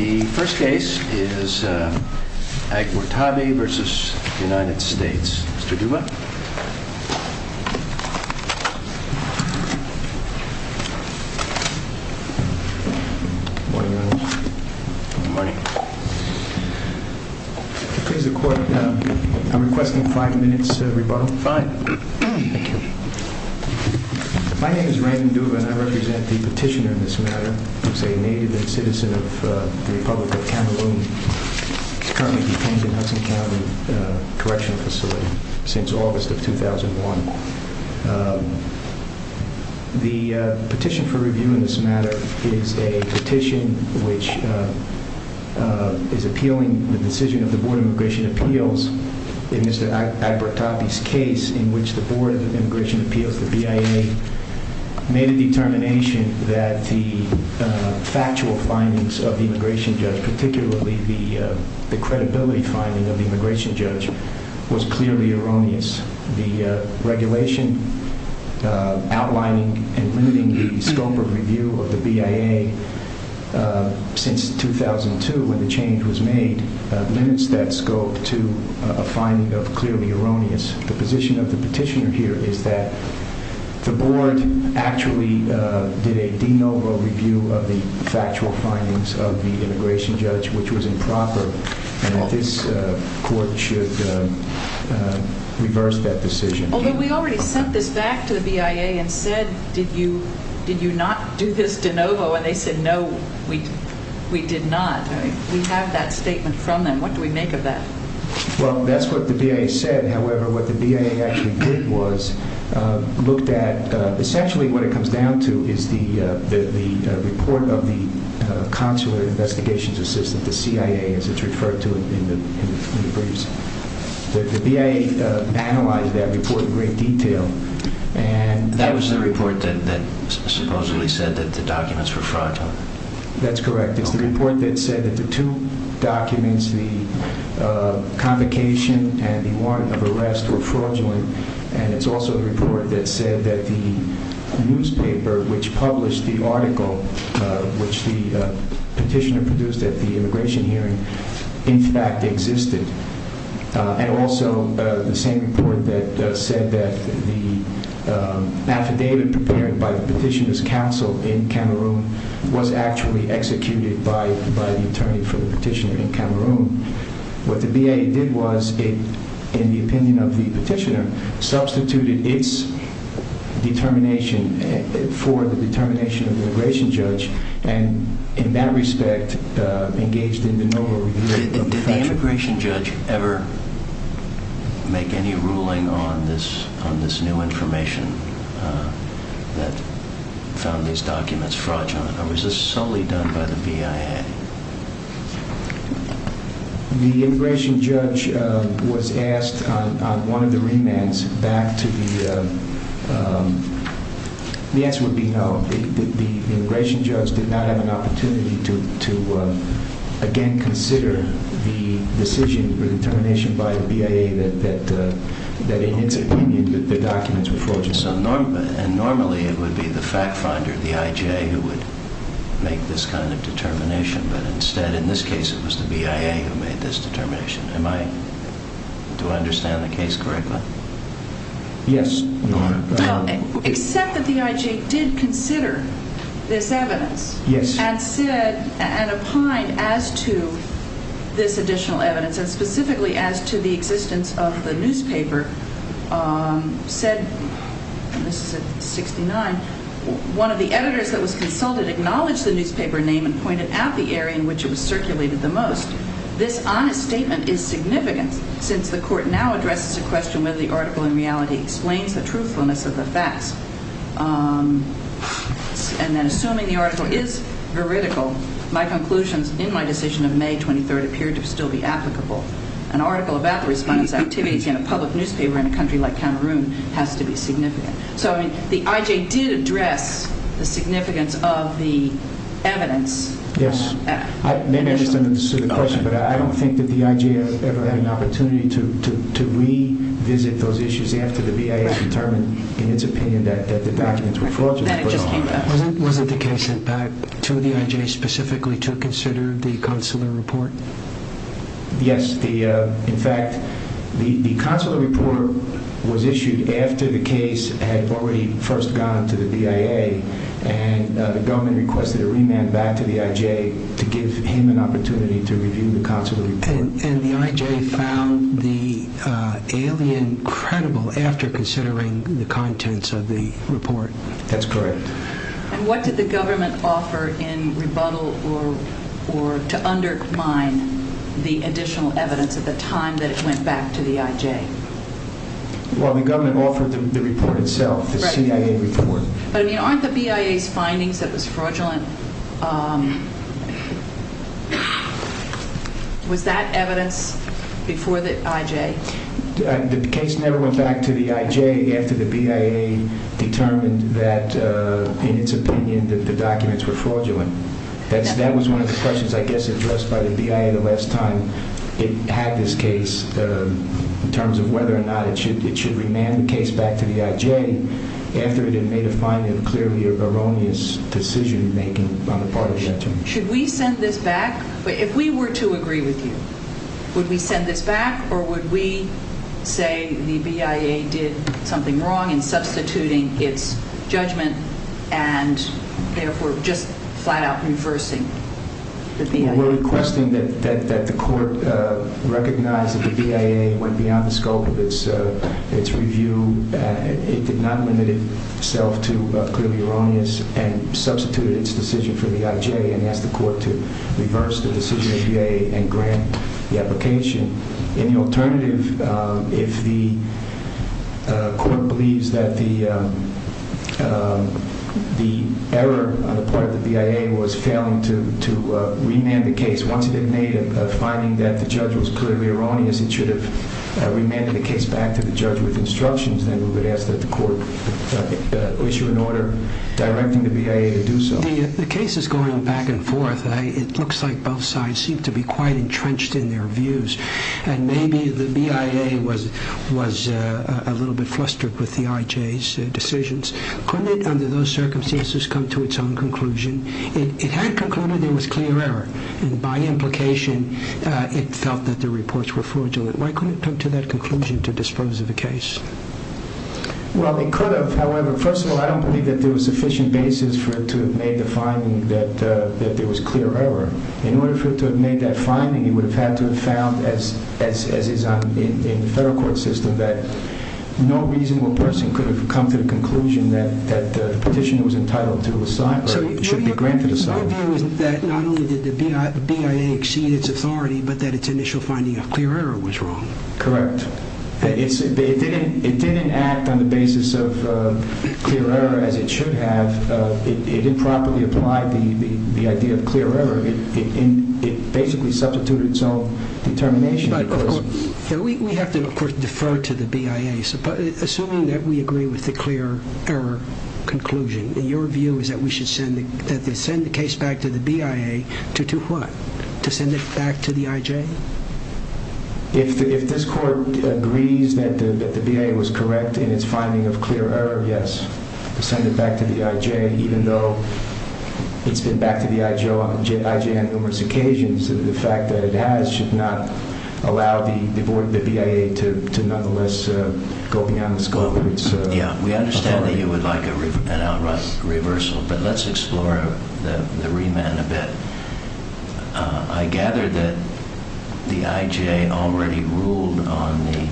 The first case is Agbortabi v. United States. Mr. Duva. Good morning, Your Honor. Good morning. Could I please the Court? I'm requesting five minutes' rebuttal. Fine. Thank you. My name is Raymond Duva, and I represent the petitioner in this matter. He's a native and citizen of the Republic of Cameroon. He's currently detained in Hudson County Correctional Facility since August of 2001. The petition for review in this matter is a petition which is appealing the decision of the Board of Immigration Appeals in Mr. Agbortabi's case in which the Board of Immigration Appeals, the BIA, made a determination that the factual findings of the immigration judge, particularly the credibility finding of the immigration judge, was clearly erroneous. The regulation outlining and limiting the scope of review of the BIA since 2002, when the change was made, limits that scope to a finding of clearly erroneous. The position of the petitioner here is that the Board actually did a de novo review of the factual findings of the immigration judge, which was improper, and that this Court should reverse that decision. Although we already sent this back to the BIA and said, did you not do this de novo, and they said, no, we did not. We have that statement from them. What do we make of that? Well, that's what the BIA said. However, what the BIA actually did was looked at, essentially what it comes down to is the report of the consular investigations assistant, the CIA, as it's referred to in the briefs. The BIA analyzed that report in great detail. That was the report that supposedly said that the documents were fraudulent? That's correct. It's the report that said that the two documents, the convocation and the warrant of arrest, were fraudulent. It's also the report that said that the newspaper which published the article, which the petitioner produced at the immigration hearing, in fact existed. And also the same report that said that the affidavit prepared by the petitioner's counsel in Cameroon was actually executed by the attorney for the petitioner in Cameroon. What the BIA did was, in the opinion of the petitioner, substituted its determination for the determination of the immigration judge, and in that respect engaged in de novo review of the facts. Did the immigration judge ever make any ruling on this new information that found these documents fraudulent, or was this solely done by the BIA? The immigration judge was asked on one of the remands back to the… The answer would be no. The immigration judge did not have an opportunity to again consider the decision or determination by the BIA that in its opinion the documents were fraudulent. Normally it would be the fact finder, the IJ, who would make this kind of determination, but instead in this case it was the BIA who made this determination. Do I understand the case correctly? Yes. Except that the IJ did consider this evidence, and said, and opined as to this additional evidence, and specifically as to the existence of the newspaper, said, and this is at 69, one of the editors that was consulted acknowledged the newspaper name and pointed out the area in which it was circulated the most. This honest statement is significant, since the court now addresses the question whether the article in reality explains the truthfulness of the facts, and then assuming the article is veridical, my conclusions in my decision of May 23rd appear to still be applicable. An article about the respondents' activities in a public newspaper in a country like Cameroon has to be significant. So the IJ did address the significance of the evidence. Yes. Maybe I misunderstood the question, but I don't think that the IJ ever had an opportunity to revisit those issues after the BIA determined in its opinion that the documents were fraudulent. Wasn't the case sent back to the IJ specifically to consider the consular report? Yes. In fact, the consular report was issued after the case had already first gone to the BIA, and the government requested a remand back to the IJ to give him an opportunity to review the consular report. And the IJ found the alien credible after considering the contents of the report? That's correct. And what did the government offer in rebuttal or to undermine the additional evidence at the time that it went back to the IJ? Well, the government offered the report itself, the CIA report. But, I mean, aren't the BIA's findings that it was fraudulent? Was that evidence before the IJ? The case never went back to the IJ after the BIA determined that, in its opinion, that the documents were fraudulent. That was one of the questions, I guess, addressed by the BIA the last time it had this case in terms of whether or not it should remand the case back to the IJ after it had made a finding of clearly erroneous decision-making on the part of the IJ. Should we send this back? If we were to agree with you, would we send this back or would we say the BIA did something wrong in substituting its judgment and, therefore, just flat-out reversing the BIA? We're requesting that the court recognize that the BIA went beyond the scope of its review. It did not limit itself to clearly erroneous and substituted its decision for the IJ and asked the court to reverse the decision of the BIA and grant the application. In the alternative, if the court believes that the error on the part of the BIA was failing to remand the case, once it had made a finding that the judge was clearly erroneous, it should have remanded the case back to the judge with instructions, then we would ask that the court issue an order directing the BIA to do so. The case is going back and forth. It looks like both sides seem to be quite entrenched in their views and maybe the BIA was a little bit flustered with the IJ's decisions. Couldn't it, under those circumstances, come to its own conclusion? It had concluded there was clear error and, by implication, it felt that the reports were fraudulent. Why couldn't it come to that conclusion to dispose of the case? Well, it could have. However, first of all, I don't believe that there was sufficient basis for it to have made the finding that there was clear error. In order for it to have made that finding, it would have had to have found, as is in the federal court system, that no reasonable person could have come to the conclusion that the petitioner was entitled to or should be granted asylum. So your view is that not only did the BIA exceed its authority, but that its initial finding of clear error was wrong? Correct. It didn't act on the basis of clear error as it should have. It improperly applied the idea of clear error. It basically substituted its own determination. We have to, of course, defer to the BIA. Assuming that we agree with the clear error conclusion, your view is that we should send the case back to the BIA to do what? To send it back to the IJ? If this court agrees that the BIA was correct in its finding of clear error, yes. To send it back to the IJ, even though it's been back to the IJ on numerous occasions, the fact that it has should not allow the BIA to nonetheless go beyond its authority. We understand that you would like an outright reversal, but let's explore the remand a bit. I gather that the IJ already ruled on the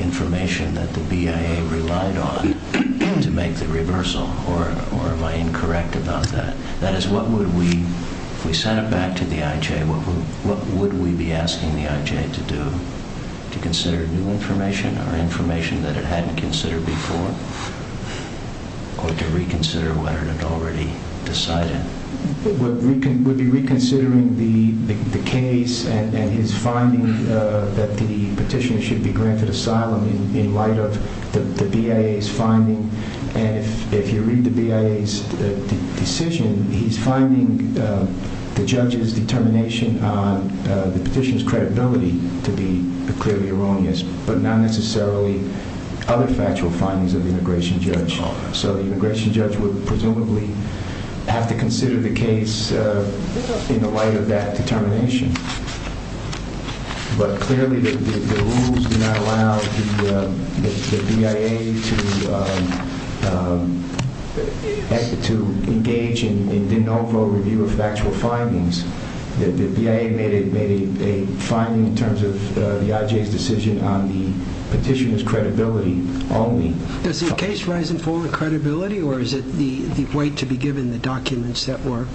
information that the BIA relied on to make the reversal. Or am I incorrect about that? That is, if we sent it back to the IJ, what would we be asking the IJ to do? To consider new information or information that it hadn't considered before? Or to reconsider what it had already decided? We'd be reconsidering the case and his finding that the petitioner should be granted asylum in light of the BIA's finding. And if you read the BIA's decision, he's finding the judge's determination on the petitioner's credibility to be clearly erroneous, but not necessarily other factual findings of the immigration judge. So the immigration judge would presumably have to consider the case in the light of that determination. But clearly the rules do not allow the BIA to engage in an overall review of factual findings. The BIA made a finding in terms of the IJ's decision on the petitioner's credibility only. Does the case rise and fall in credibility, or is it the weight to be given in the documents that were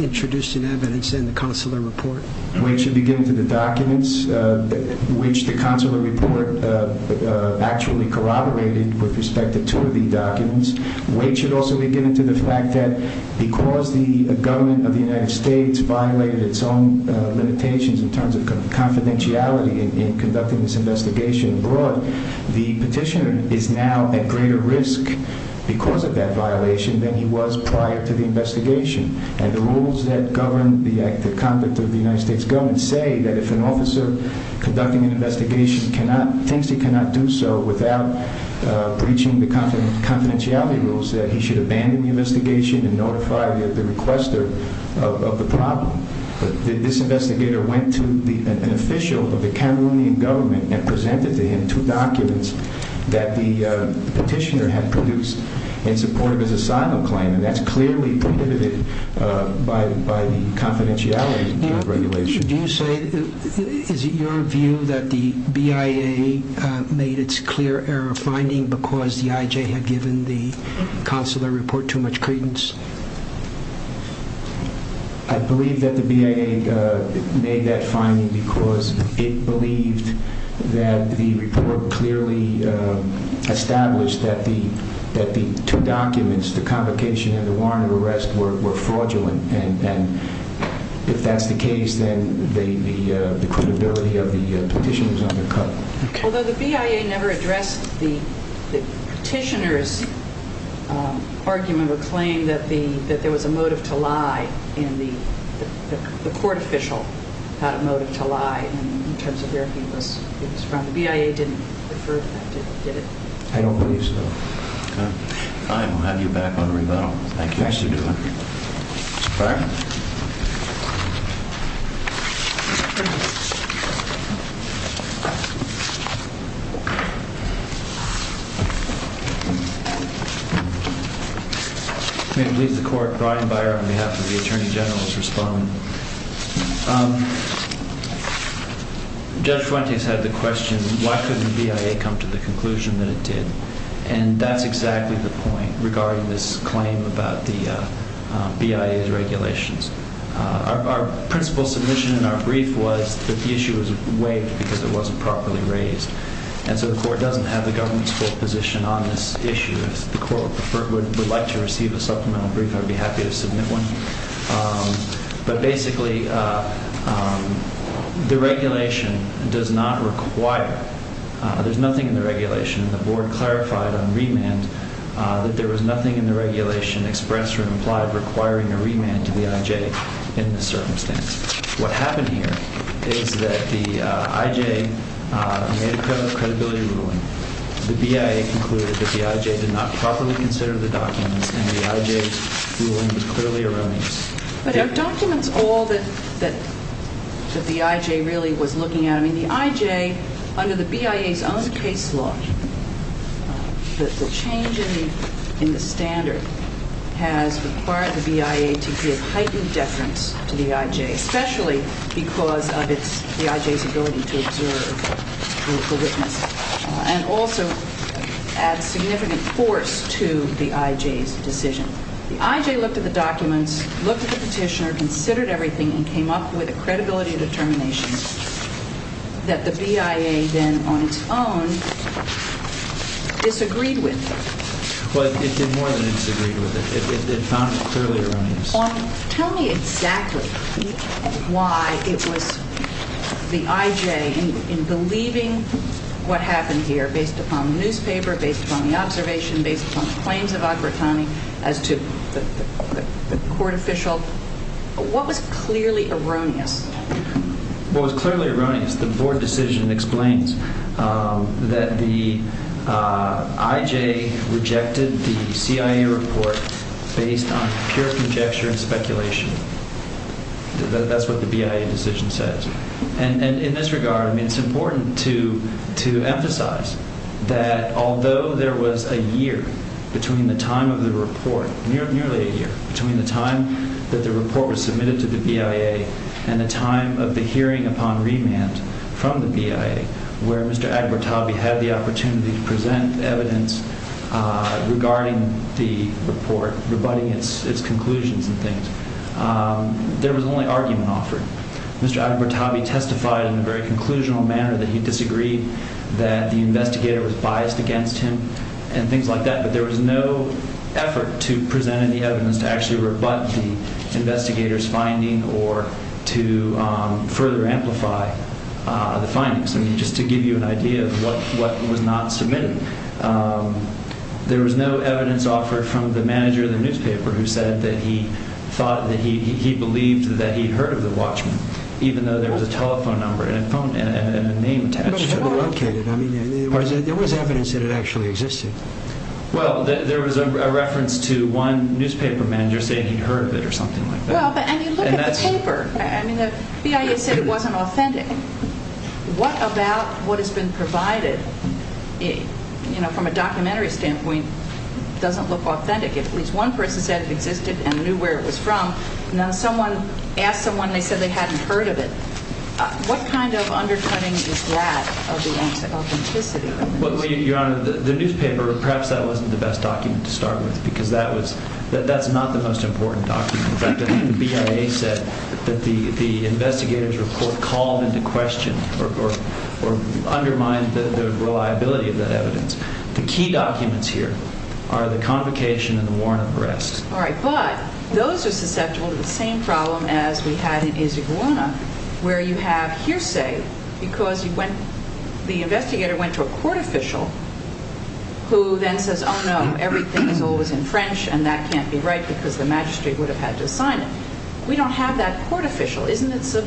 introduced in evidence in the consular report? Weight should be given to the documents, which the consular report actually corroborated with respect to two of the documents. Weight should also be given to the fact that because the government of the United States violated its own limitations in terms of confidentiality in conducting this investigation abroad, the petitioner is now at greater risk because of that violation than he was prior to the investigation. And the rules that govern the conduct of the United States government say that if an officer conducting an investigation thinks he cannot do so without breaching the confidentiality rules, that he should abandon the investigation and notify the requester of the problem. But this investigator went to an official of the Cameroonian government and presented to him two documents that the petitioner had produced in support of his asylum claim, and that's clearly predicated by the confidentiality regulations. Is it your view that the BIA made its clear error finding because the IJ had given the consular report too much credence? I believe that the BIA made that finding because it believed that the report clearly established that the two documents, the convocation and the warrant of arrest, were fraudulent. And if that's the case, then the credibility of the petitioner is undercut. Although the BIA never addressed the petitioner's argument or claim that there was a motive to lie, and the court official had a motive to lie in terms of where he was from. The BIA didn't refer to that, did it? I don't believe so. All right, we'll have you back on rebuttal. Thank you. May it please the court, Brian Byer on behalf of the Attorney General to respond. Judge Fuentes had the question, why couldn't the BIA come to the conclusion that it did? And that's exactly the point regarding this claim about the BIA's regulations. Our principal submission in our brief was that the issue was waived because it wasn't properly raised. And so the court doesn't have the government's full position on this issue. If the court would like to receive a supplemental brief, I'd be happy to submit one. But basically, the regulation does not require. There's nothing in the regulation. The board clarified on remand that there was nothing in the regulation expressed or implied requiring a remand to the IJ in this circumstance. What happened here is that the IJ made a credibility ruling. The BIA concluded that the IJ did not properly consider the documents, and the IJ's ruling was clearly erroneous. But are documents all that the IJ really was looking at? I mean, the IJ, under the BIA's own case law, the change in the standard has required the BIA to give heightened deference to the IJ, especially because of the IJ's ability to observe the witness, and also add significant force to the IJ's decision. The IJ looked at the documents, looked at the petitioner, considered everything, and came up with a credibility determination that the BIA then, on its own, disagreed with. Well, it did more than disagree with it. It found it clearly erroneous. Tell me exactly why it was the IJ, in believing what happened here, based upon the newspaper, based upon the observation, based upon the claims of Agrittani, as to the court official, what was clearly erroneous? Well, it was clearly erroneous. The board decision explains that the IJ rejected the CIA report based on pure conjecture and speculation. That's what the BIA decision says. And in this regard, I mean, it's important to emphasize that although there was a year between the time of the report, nearly a year, between the time that the report was submitted to the BIA and the time of the hearing upon remand from the BIA, where Mr. Agrittani had the opportunity to present evidence regarding the report, rebutting its conclusions and things, there was only argument offered. Mr. Agrittani testified in a very conclusional manner that he disagreed, that the investigator was biased against him and things like that, but there was no effort to present any evidence to actually rebut the investigator's finding or to further amplify the findings. I mean, just to give you an idea of what was not submitted, there was no evidence offered from the manager of the newspaper who said that he thought, that he believed that he'd heard of the watchman, even though there was a telephone number and a name attached to it. But it's underlocated. I mean, there was evidence that it actually existed. Well, there was a reference to one newspaper manager saying he'd heard of it or something like that. Well, but I mean, look at the paper. I mean, the BIA said it wasn't authentic. What about what has been provided, you know, from a documentary standpoint, doesn't look authentic? At least one person said it existed and knew where it was from. Now someone asked someone, they said they hadn't heard of it. What kind of undercutting is that of the authenticity? Well, Your Honor, the newspaper, perhaps that wasn't the best document to start with because that was – that's not the most important document. In fact, I think the BIA said that the investigator's report called into question or undermined the reliability of that evidence. The key documents here are the convocation and the warrant of arrest. All right. But those are susceptible to the same problem as we had in Isaguirre, where you have hearsay because you went – the investigator went to a court official who then says, oh, no, everything is always in French and that can't be right because the magistrate would have had to assign it. We don't have that court official. Isn't it,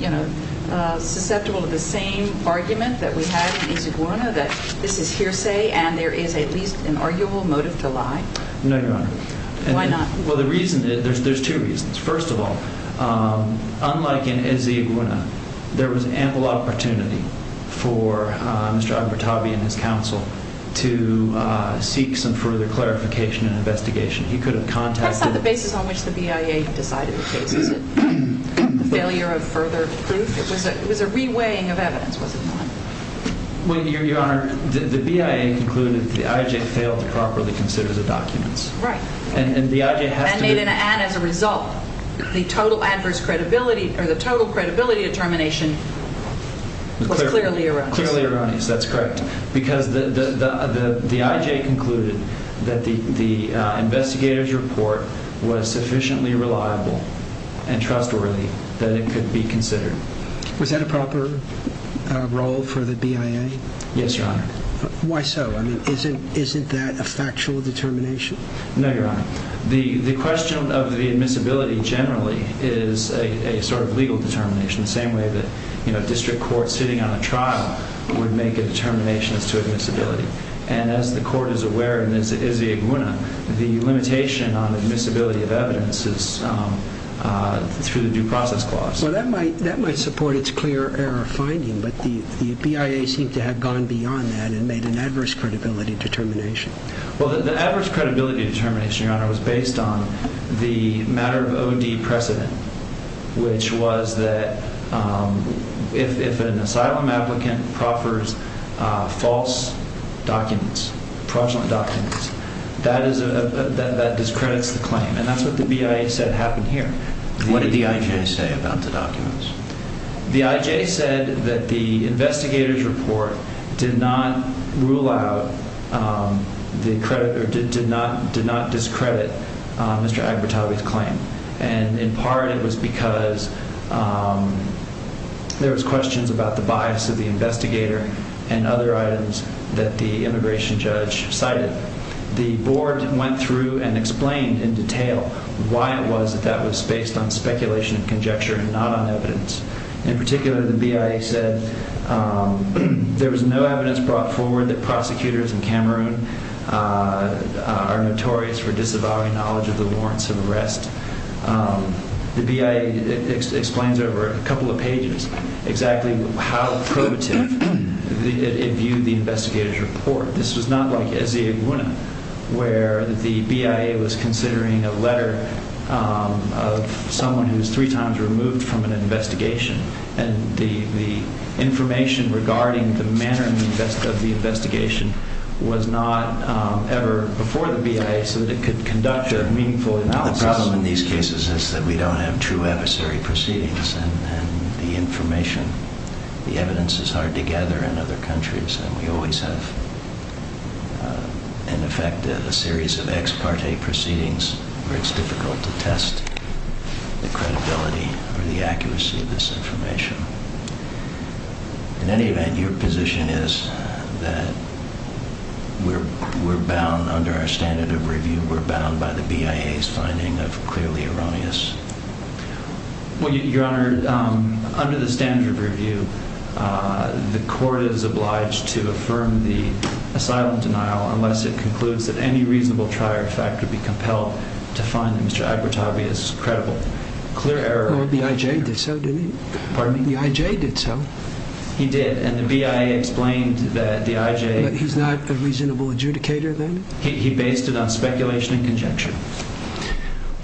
you know, susceptible to the same argument that we had in Isaguirre that this is hearsay and there is at least an arguable motive to lie? No, Your Honor. Why not? Well, the reason – there's two reasons. First of all, unlike in Isaguirre, there was ample opportunity for Mr. Albertabi and his counsel to seek some further clarification and investigation. He could have contacted – That's not the basis on which the BIA decided the case, is it? The failure of further proof? It was a reweighing of evidence, wasn't it? Well, Your Honor, the BIA concluded that the IJ failed to properly consider the documents. Right. And the IJ has to be – And made an ad as a result. The total adverse credibility – or the total credibility determination was clearly erroneous. Clearly erroneous. That's correct. Because the IJ concluded that the investigator's report was sufficiently reliable and trustworthy that it could be considered. Was that a proper role for the BIA? Yes, Your Honor. Why so? I mean, isn't that a factual determination? No, Your Honor. The question of the admissibility generally is a sort of legal determination. The same way that, you know, a district court sitting on a trial would make a determination as to admissibility. And as the court is aware, and as the iguana, the limitation on admissibility of evidence is through the due process clause. Well, that might support its clear error finding, but the BIA seemed to have gone beyond that and made an adverse credibility determination. Well, the adverse credibility determination, Your Honor, was based on the matter of OD precedent, which was that if an asylum applicant proffers false documents, fraudulent documents, that discredits the claim. And that's what the BIA said happened here. What did the IJ say about the documents? The IJ said that the investigator's report did not rule out the credit or did not discredit Mr. Agbertabi's claim. And in part, it was because there was questions about the bias of the investigator and other items that the immigration judge cited. But the board went through and explained in detail why it was that that was based on speculation and conjecture and not on evidence. In particular, the BIA said there was no evidence brought forward that prosecutors in Cameroon are notorious for disavowing knowledge of the warrants of arrest. The BIA explains over a couple of pages exactly how probative it viewed the investigator's report. This was not like Eze Agbuna, where the BIA was considering a letter of someone who was three times removed from an investigation. And the information regarding the manner of the investigation was not ever before the BIA so that it could conduct a meaningful analysis. The problem in these cases is that we don't have true adversary proceedings. And the information, the evidence is hard to gather in other countries. And we always have, in effect, a series of ex parte proceedings where it's difficult to test the credibility or the accuracy of this information. In any event, your position is that we're bound under our standard of review. We're bound by the BIA's finding of clearly erroneous. Your Honor, under the standard of review, the court is obliged to affirm the asylum denial unless it concludes that any reasonable trier of fact would be compelled to find that Mr. Agbutabi is credible. The IJ did so, didn't he? Pardon? The IJ did so. He did, and the BIA explained that the IJ... But he's not a reasonable adjudicator then? He based it on speculation and conjecture.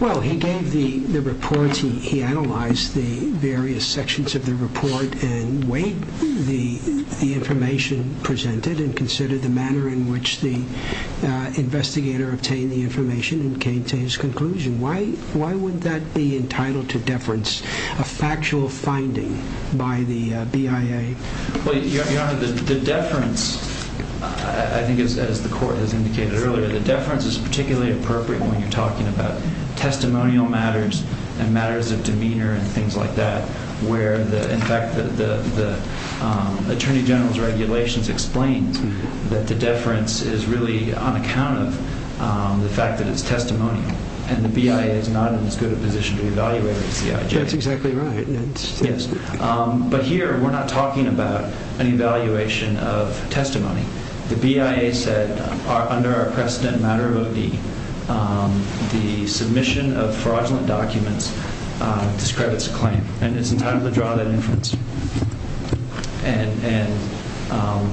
Well, he gave the report. He analyzed the various sections of the report and weighed the information presented and considered the manner in which the investigator obtained the information and came to his conclusion. Why would that be entitled to deference, a factual finding by the BIA? Your Honor, the deference, I think as the court has indicated earlier, the deference is particularly appropriate when you're talking about testimonial matters and matters of demeanor and things like that where, in fact, the Attorney General's regulations explain that the deference is really on account of the fact that it's testimonial and the BIA is not in as good a position to evaluate the CIJ. That's exactly right. Yes. But here, we're not talking about an evaluation of testimony. The BIA said under our precedent matter of OD, the submission of fraudulent documents discredits a claim, and it's entitled to draw that inference. And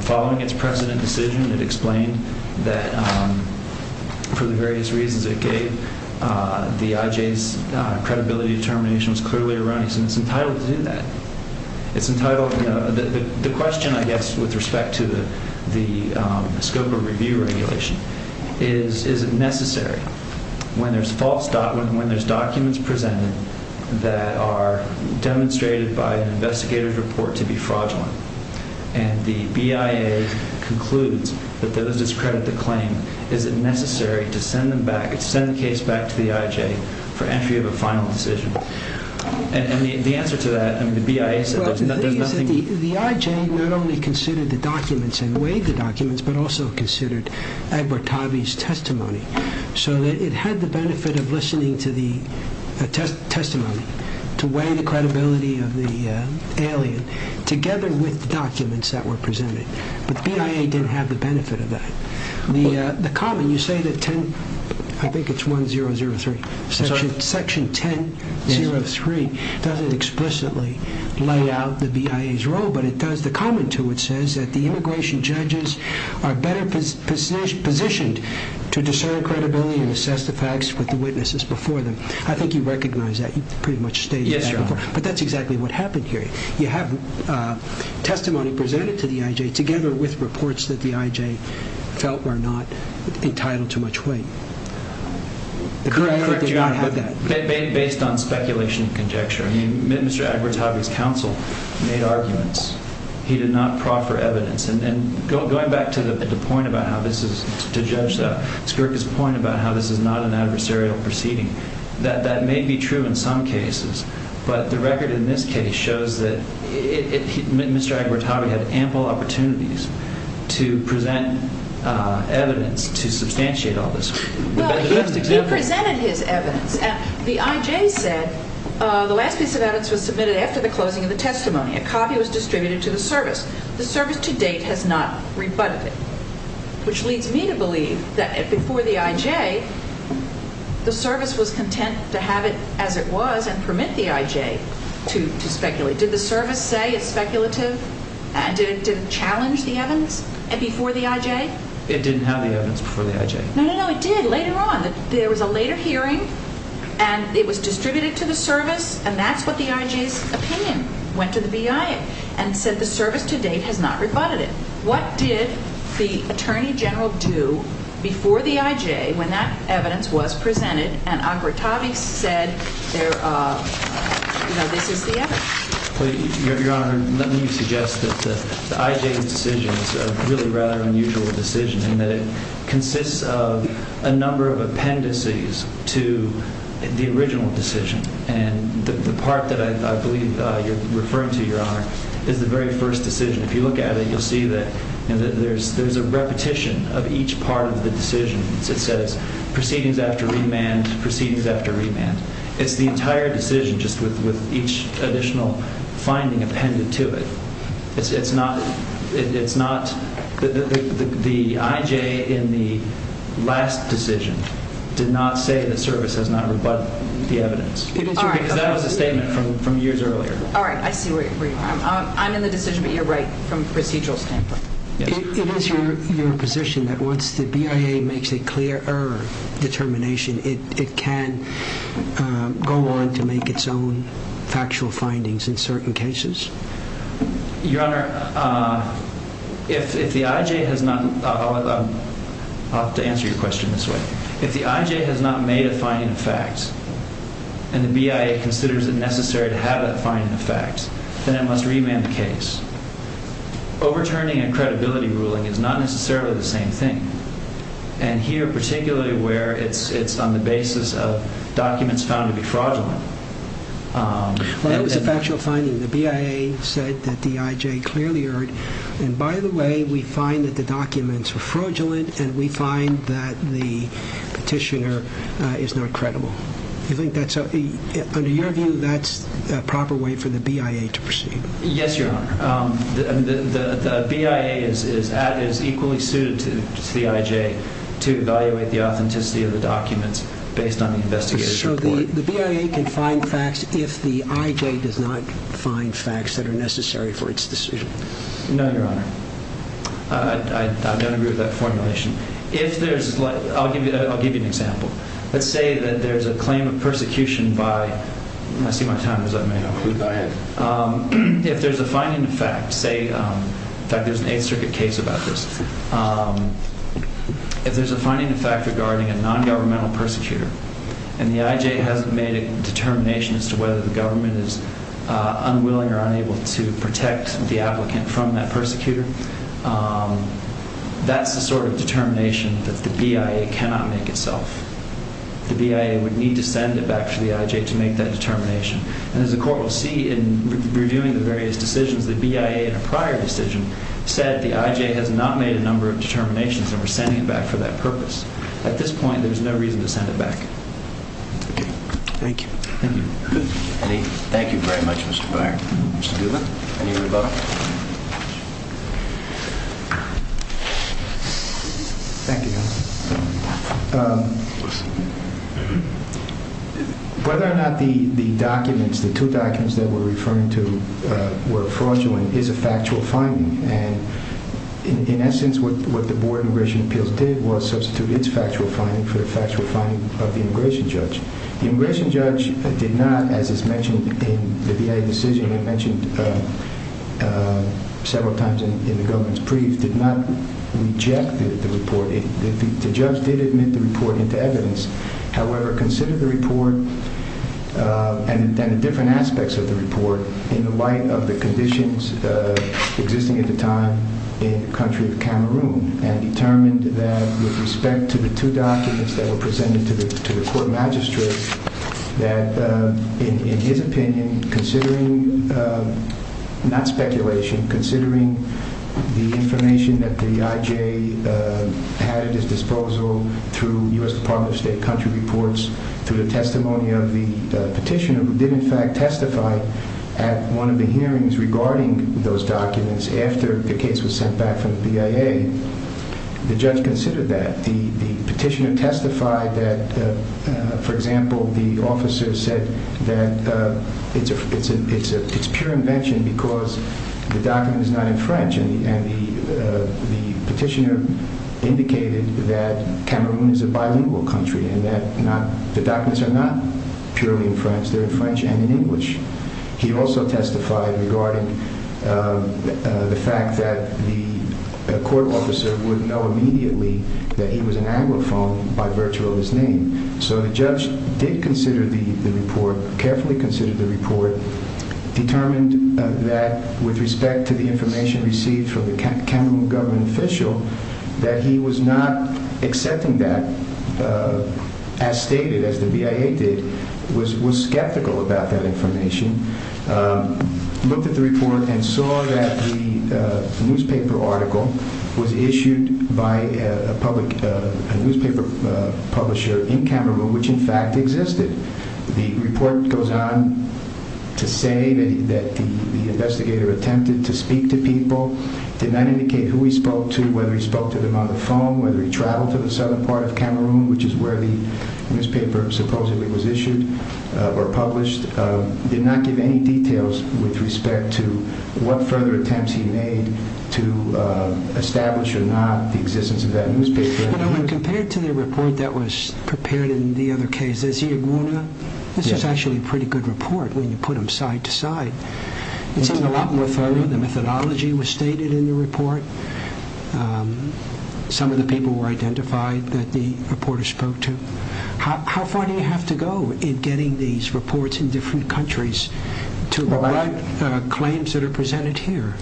following its precedent decision, it explained that for the various reasons it gave, the IJ's credibility determination was clearly erroneous, and it's entitled to do that. The question, I guess, with respect to the scope of review regulation is, is it necessary when there's documents presented that are demonstrated by an investigator's report to be fraudulent, and the BIA concludes that those that discredit the claim, is it necessary to send the case back to the IJ for entry of a final decision? And the answer to that, I mean, the BIA said there's nothing... Well, the thing is that the IJ not only considered the documents and weighed the documents, but also considered Edward Tovey's testimony, so that it had the benefit of listening to the testimony to weigh the credibility of the alien together with the documents that were presented. But the BIA didn't have the benefit of that. The comment, you say that 10... I think it's 1003. Sorry? Section 1003 doesn't explicitly lay out the BIA's role, but it does, the comment to it says that the immigration judges are better positioned to discern credibility and assess the facts with the witnesses before them. I think you recognize that. You pretty much stated that before. Yes, Your Honor. But that's exactly what happened here. You have testimony presented to the IJ together with reports that the IJ felt were not entitled to much weight. Correct, Your Honor, but based on speculation and conjecture. I mean, Mr. Edward Tovey's counsel made arguments. He did not proffer evidence. And going back to the point about how this is, to judge Skirka's point about how this is not an adversarial proceeding, that may be true in some cases, but the record in this case shows that Mr. Edward Tovey had ample opportunities to present evidence to substantiate all this. Well, he presented his evidence. The IJ said the last piece of evidence was submitted after the closing of the testimony. A copy was distributed to the service. The service to date has not rebutted it, which leads me to believe that before the IJ, the service was content to have it as it was and permit the IJ to speculate. Did the service say it's speculative? Did it challenge the evidence before the IJ? It didn't have the evidence before the IJ. No, no, no, it did later on. There was a later hearing and it was distributed to the service and that's what the IJ's opinion went to the BIA and said the service to date has not rebutted it. What did the Attorney General do before the IJ when that evidence was presented and Edward Tovey said, you know, this is the evidence? Your Honor, let me suggest that the IJ's decision is a really rather unusual decision in that it consists of a number of appendices to the original decision and the part that I believe you're referring to, Your Honor, is the very first decision. If you look at it, you'll see that there's a repetition of each part of the decision. It says proceedings after remand, proceedings after remand. It's the entire decision just with each additional finding appended to it. It's not the IJ in the last decision did not say the service has not rebutted the evidence because that was the statement from years earlier. All right, I see where you are. I'm in the decision, but you're right from a procedural standpoint. It is your position that once the BIA makes a clear error determination, it can go on to make its own factual findings in certain cases? Your Honor, if the IJ has not, I'll have to answer your question this way, if the IJ has not made a finding of facts and the BIA considers it necessary to have that finding of facts, then it must remand the case. Overturning a credibility ruling is not necessarily the same thing and here particularly where it's on the basis of documents found to be fraudulent. Well, it was a factual finding. The BIA said that the IJ clearly erred and by the way, we find that the documents were fraudulent and we find that the petitioner is not credible. Under your view, that's a proper way for the BIA to proceed? Yes, Your Honor. The BIA is equally suited to the IJ to evaluate the authenticity of the documents based on the investigative report. So the BIA can find facts if the IJ does not find facts that are necessary for its decision? No, Your Honor. I don't agree with that formulation. If there's, I'll give you an example. Let's say that there's a claim of persecution by, if there's a finding of facts, say, in fact there's an Eighth Circuit case about this. If there's a finding of fact regarding a non-governmental persecutor and the IJ hasn't made a determination as to whether the government is unwilling or unable to protect the applicant from that persecutor, that's the sort of determination that the BIA cannot make itself. The BIA would need to send it back to the IJ to make that determination. And as the Court will see in reviewing the various decisions, the BIA in a prior decision said the IJ has not made a number of determinations and we're sending it back for that purpose. At this point, there's no reason to send it back. Okay. Thank you. Thank you. Thank you very much, Mr. Byer. Mr. Doolittle, any rebuttal? Thank you. Whether or not the documents, the two documents that we're referring to were fraudulent is a factual finding. And in essence, what the Board of Immigration Appeals did was substitute its factual finding for the factual finding of the immigration judge. The immigration judge did not, as is mentioned in the BIA decision and mentioned several times in the government's brief, did not reject the report. The judge did admit the report into evidence. However, considered the report and the different aspects of the report in the light of the conditions existing at the time in the country of Cameroon, and determined that with respect to the two documents that were presented to the Court Magistrate, that in his opinion, considering not speculation, considering the information that the IJ had at its disposal through U.S. Department of State country reports, through the testimony of the petitioner who did in fact testify at one of the hearings regarding those documents after the case was sent back from the BIA, the judge considered that. The petitioner testified that, for example, the officer said that it's pure invention because the document is not in French. And the petitioner indicated that Cameroon is a bilingual country and that the documents are not purely in French. They're in French and in English. He also testified regarding the fact that the court officer would know immediately that he was an Anglophone by virtue of his name. So the judge did consider the report, carefully considered the report, determined that with respect to the information received from the Cameroon government official, that he was not accepting that, as stated, as the BIA did, was skeptical about that information, looked at the report and saw that the newspaper article was issued by a newspaper publisher in Cameroon, which in fact existed. The report goes on to say that the investigator attempted to speak to people, did not indicate who he spoke to, whether he spoke to them on the phone, whether he traveled to the southern part of Cameroon, which is where the newspaper supposedly was issued or published, did not give any details with respect to what further attempts he made to establish or not the existence of that newspaper. When compared to the report that was prepared in the other case, this is actually a pretty good report when you put them side to side. It's a lot more thorough. The methodology was stated in the report. Some of the people were identified that the reporter spoke to. How far do you have to go in getting these reports in different countries to provide claims that are presented here?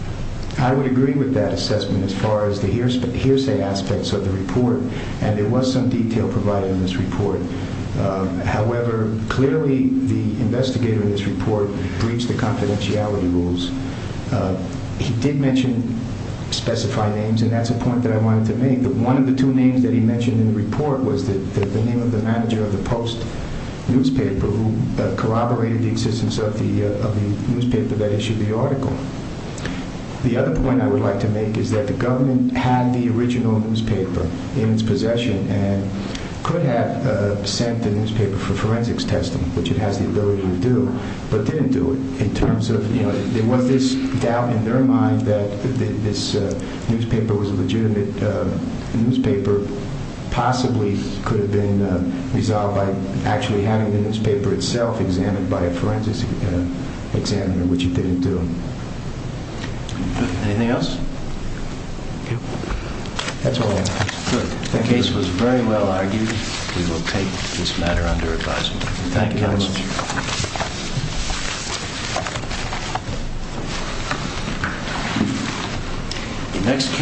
I would agree with that assessment as far as the hearsay aspects of the report, and there was some detail provided in this report. However, clearly the investigator in this report breached the confidentiality rules. He did mention specified names, and that's a point that I wanted to make. One of the two names that he mentioned in the report was the name of the manager of the Post newspaper, who corroborated the existence of the newspaper that issued the article. The other point I would like to make is that the government had the original newspaper in its possession and could have sent the newspaper for forensics testing, which it has the ability to do, but didn't do it. There was this doubt in their mind that this newspaper was legitimate. The newspaper possibly could have been resolved by actually having the newspaper itself examined by a forensics examiner, which it didn't do. Anything else? That's all. Good. The case was very well argued. We will take this matter under advisement. Thank you very much.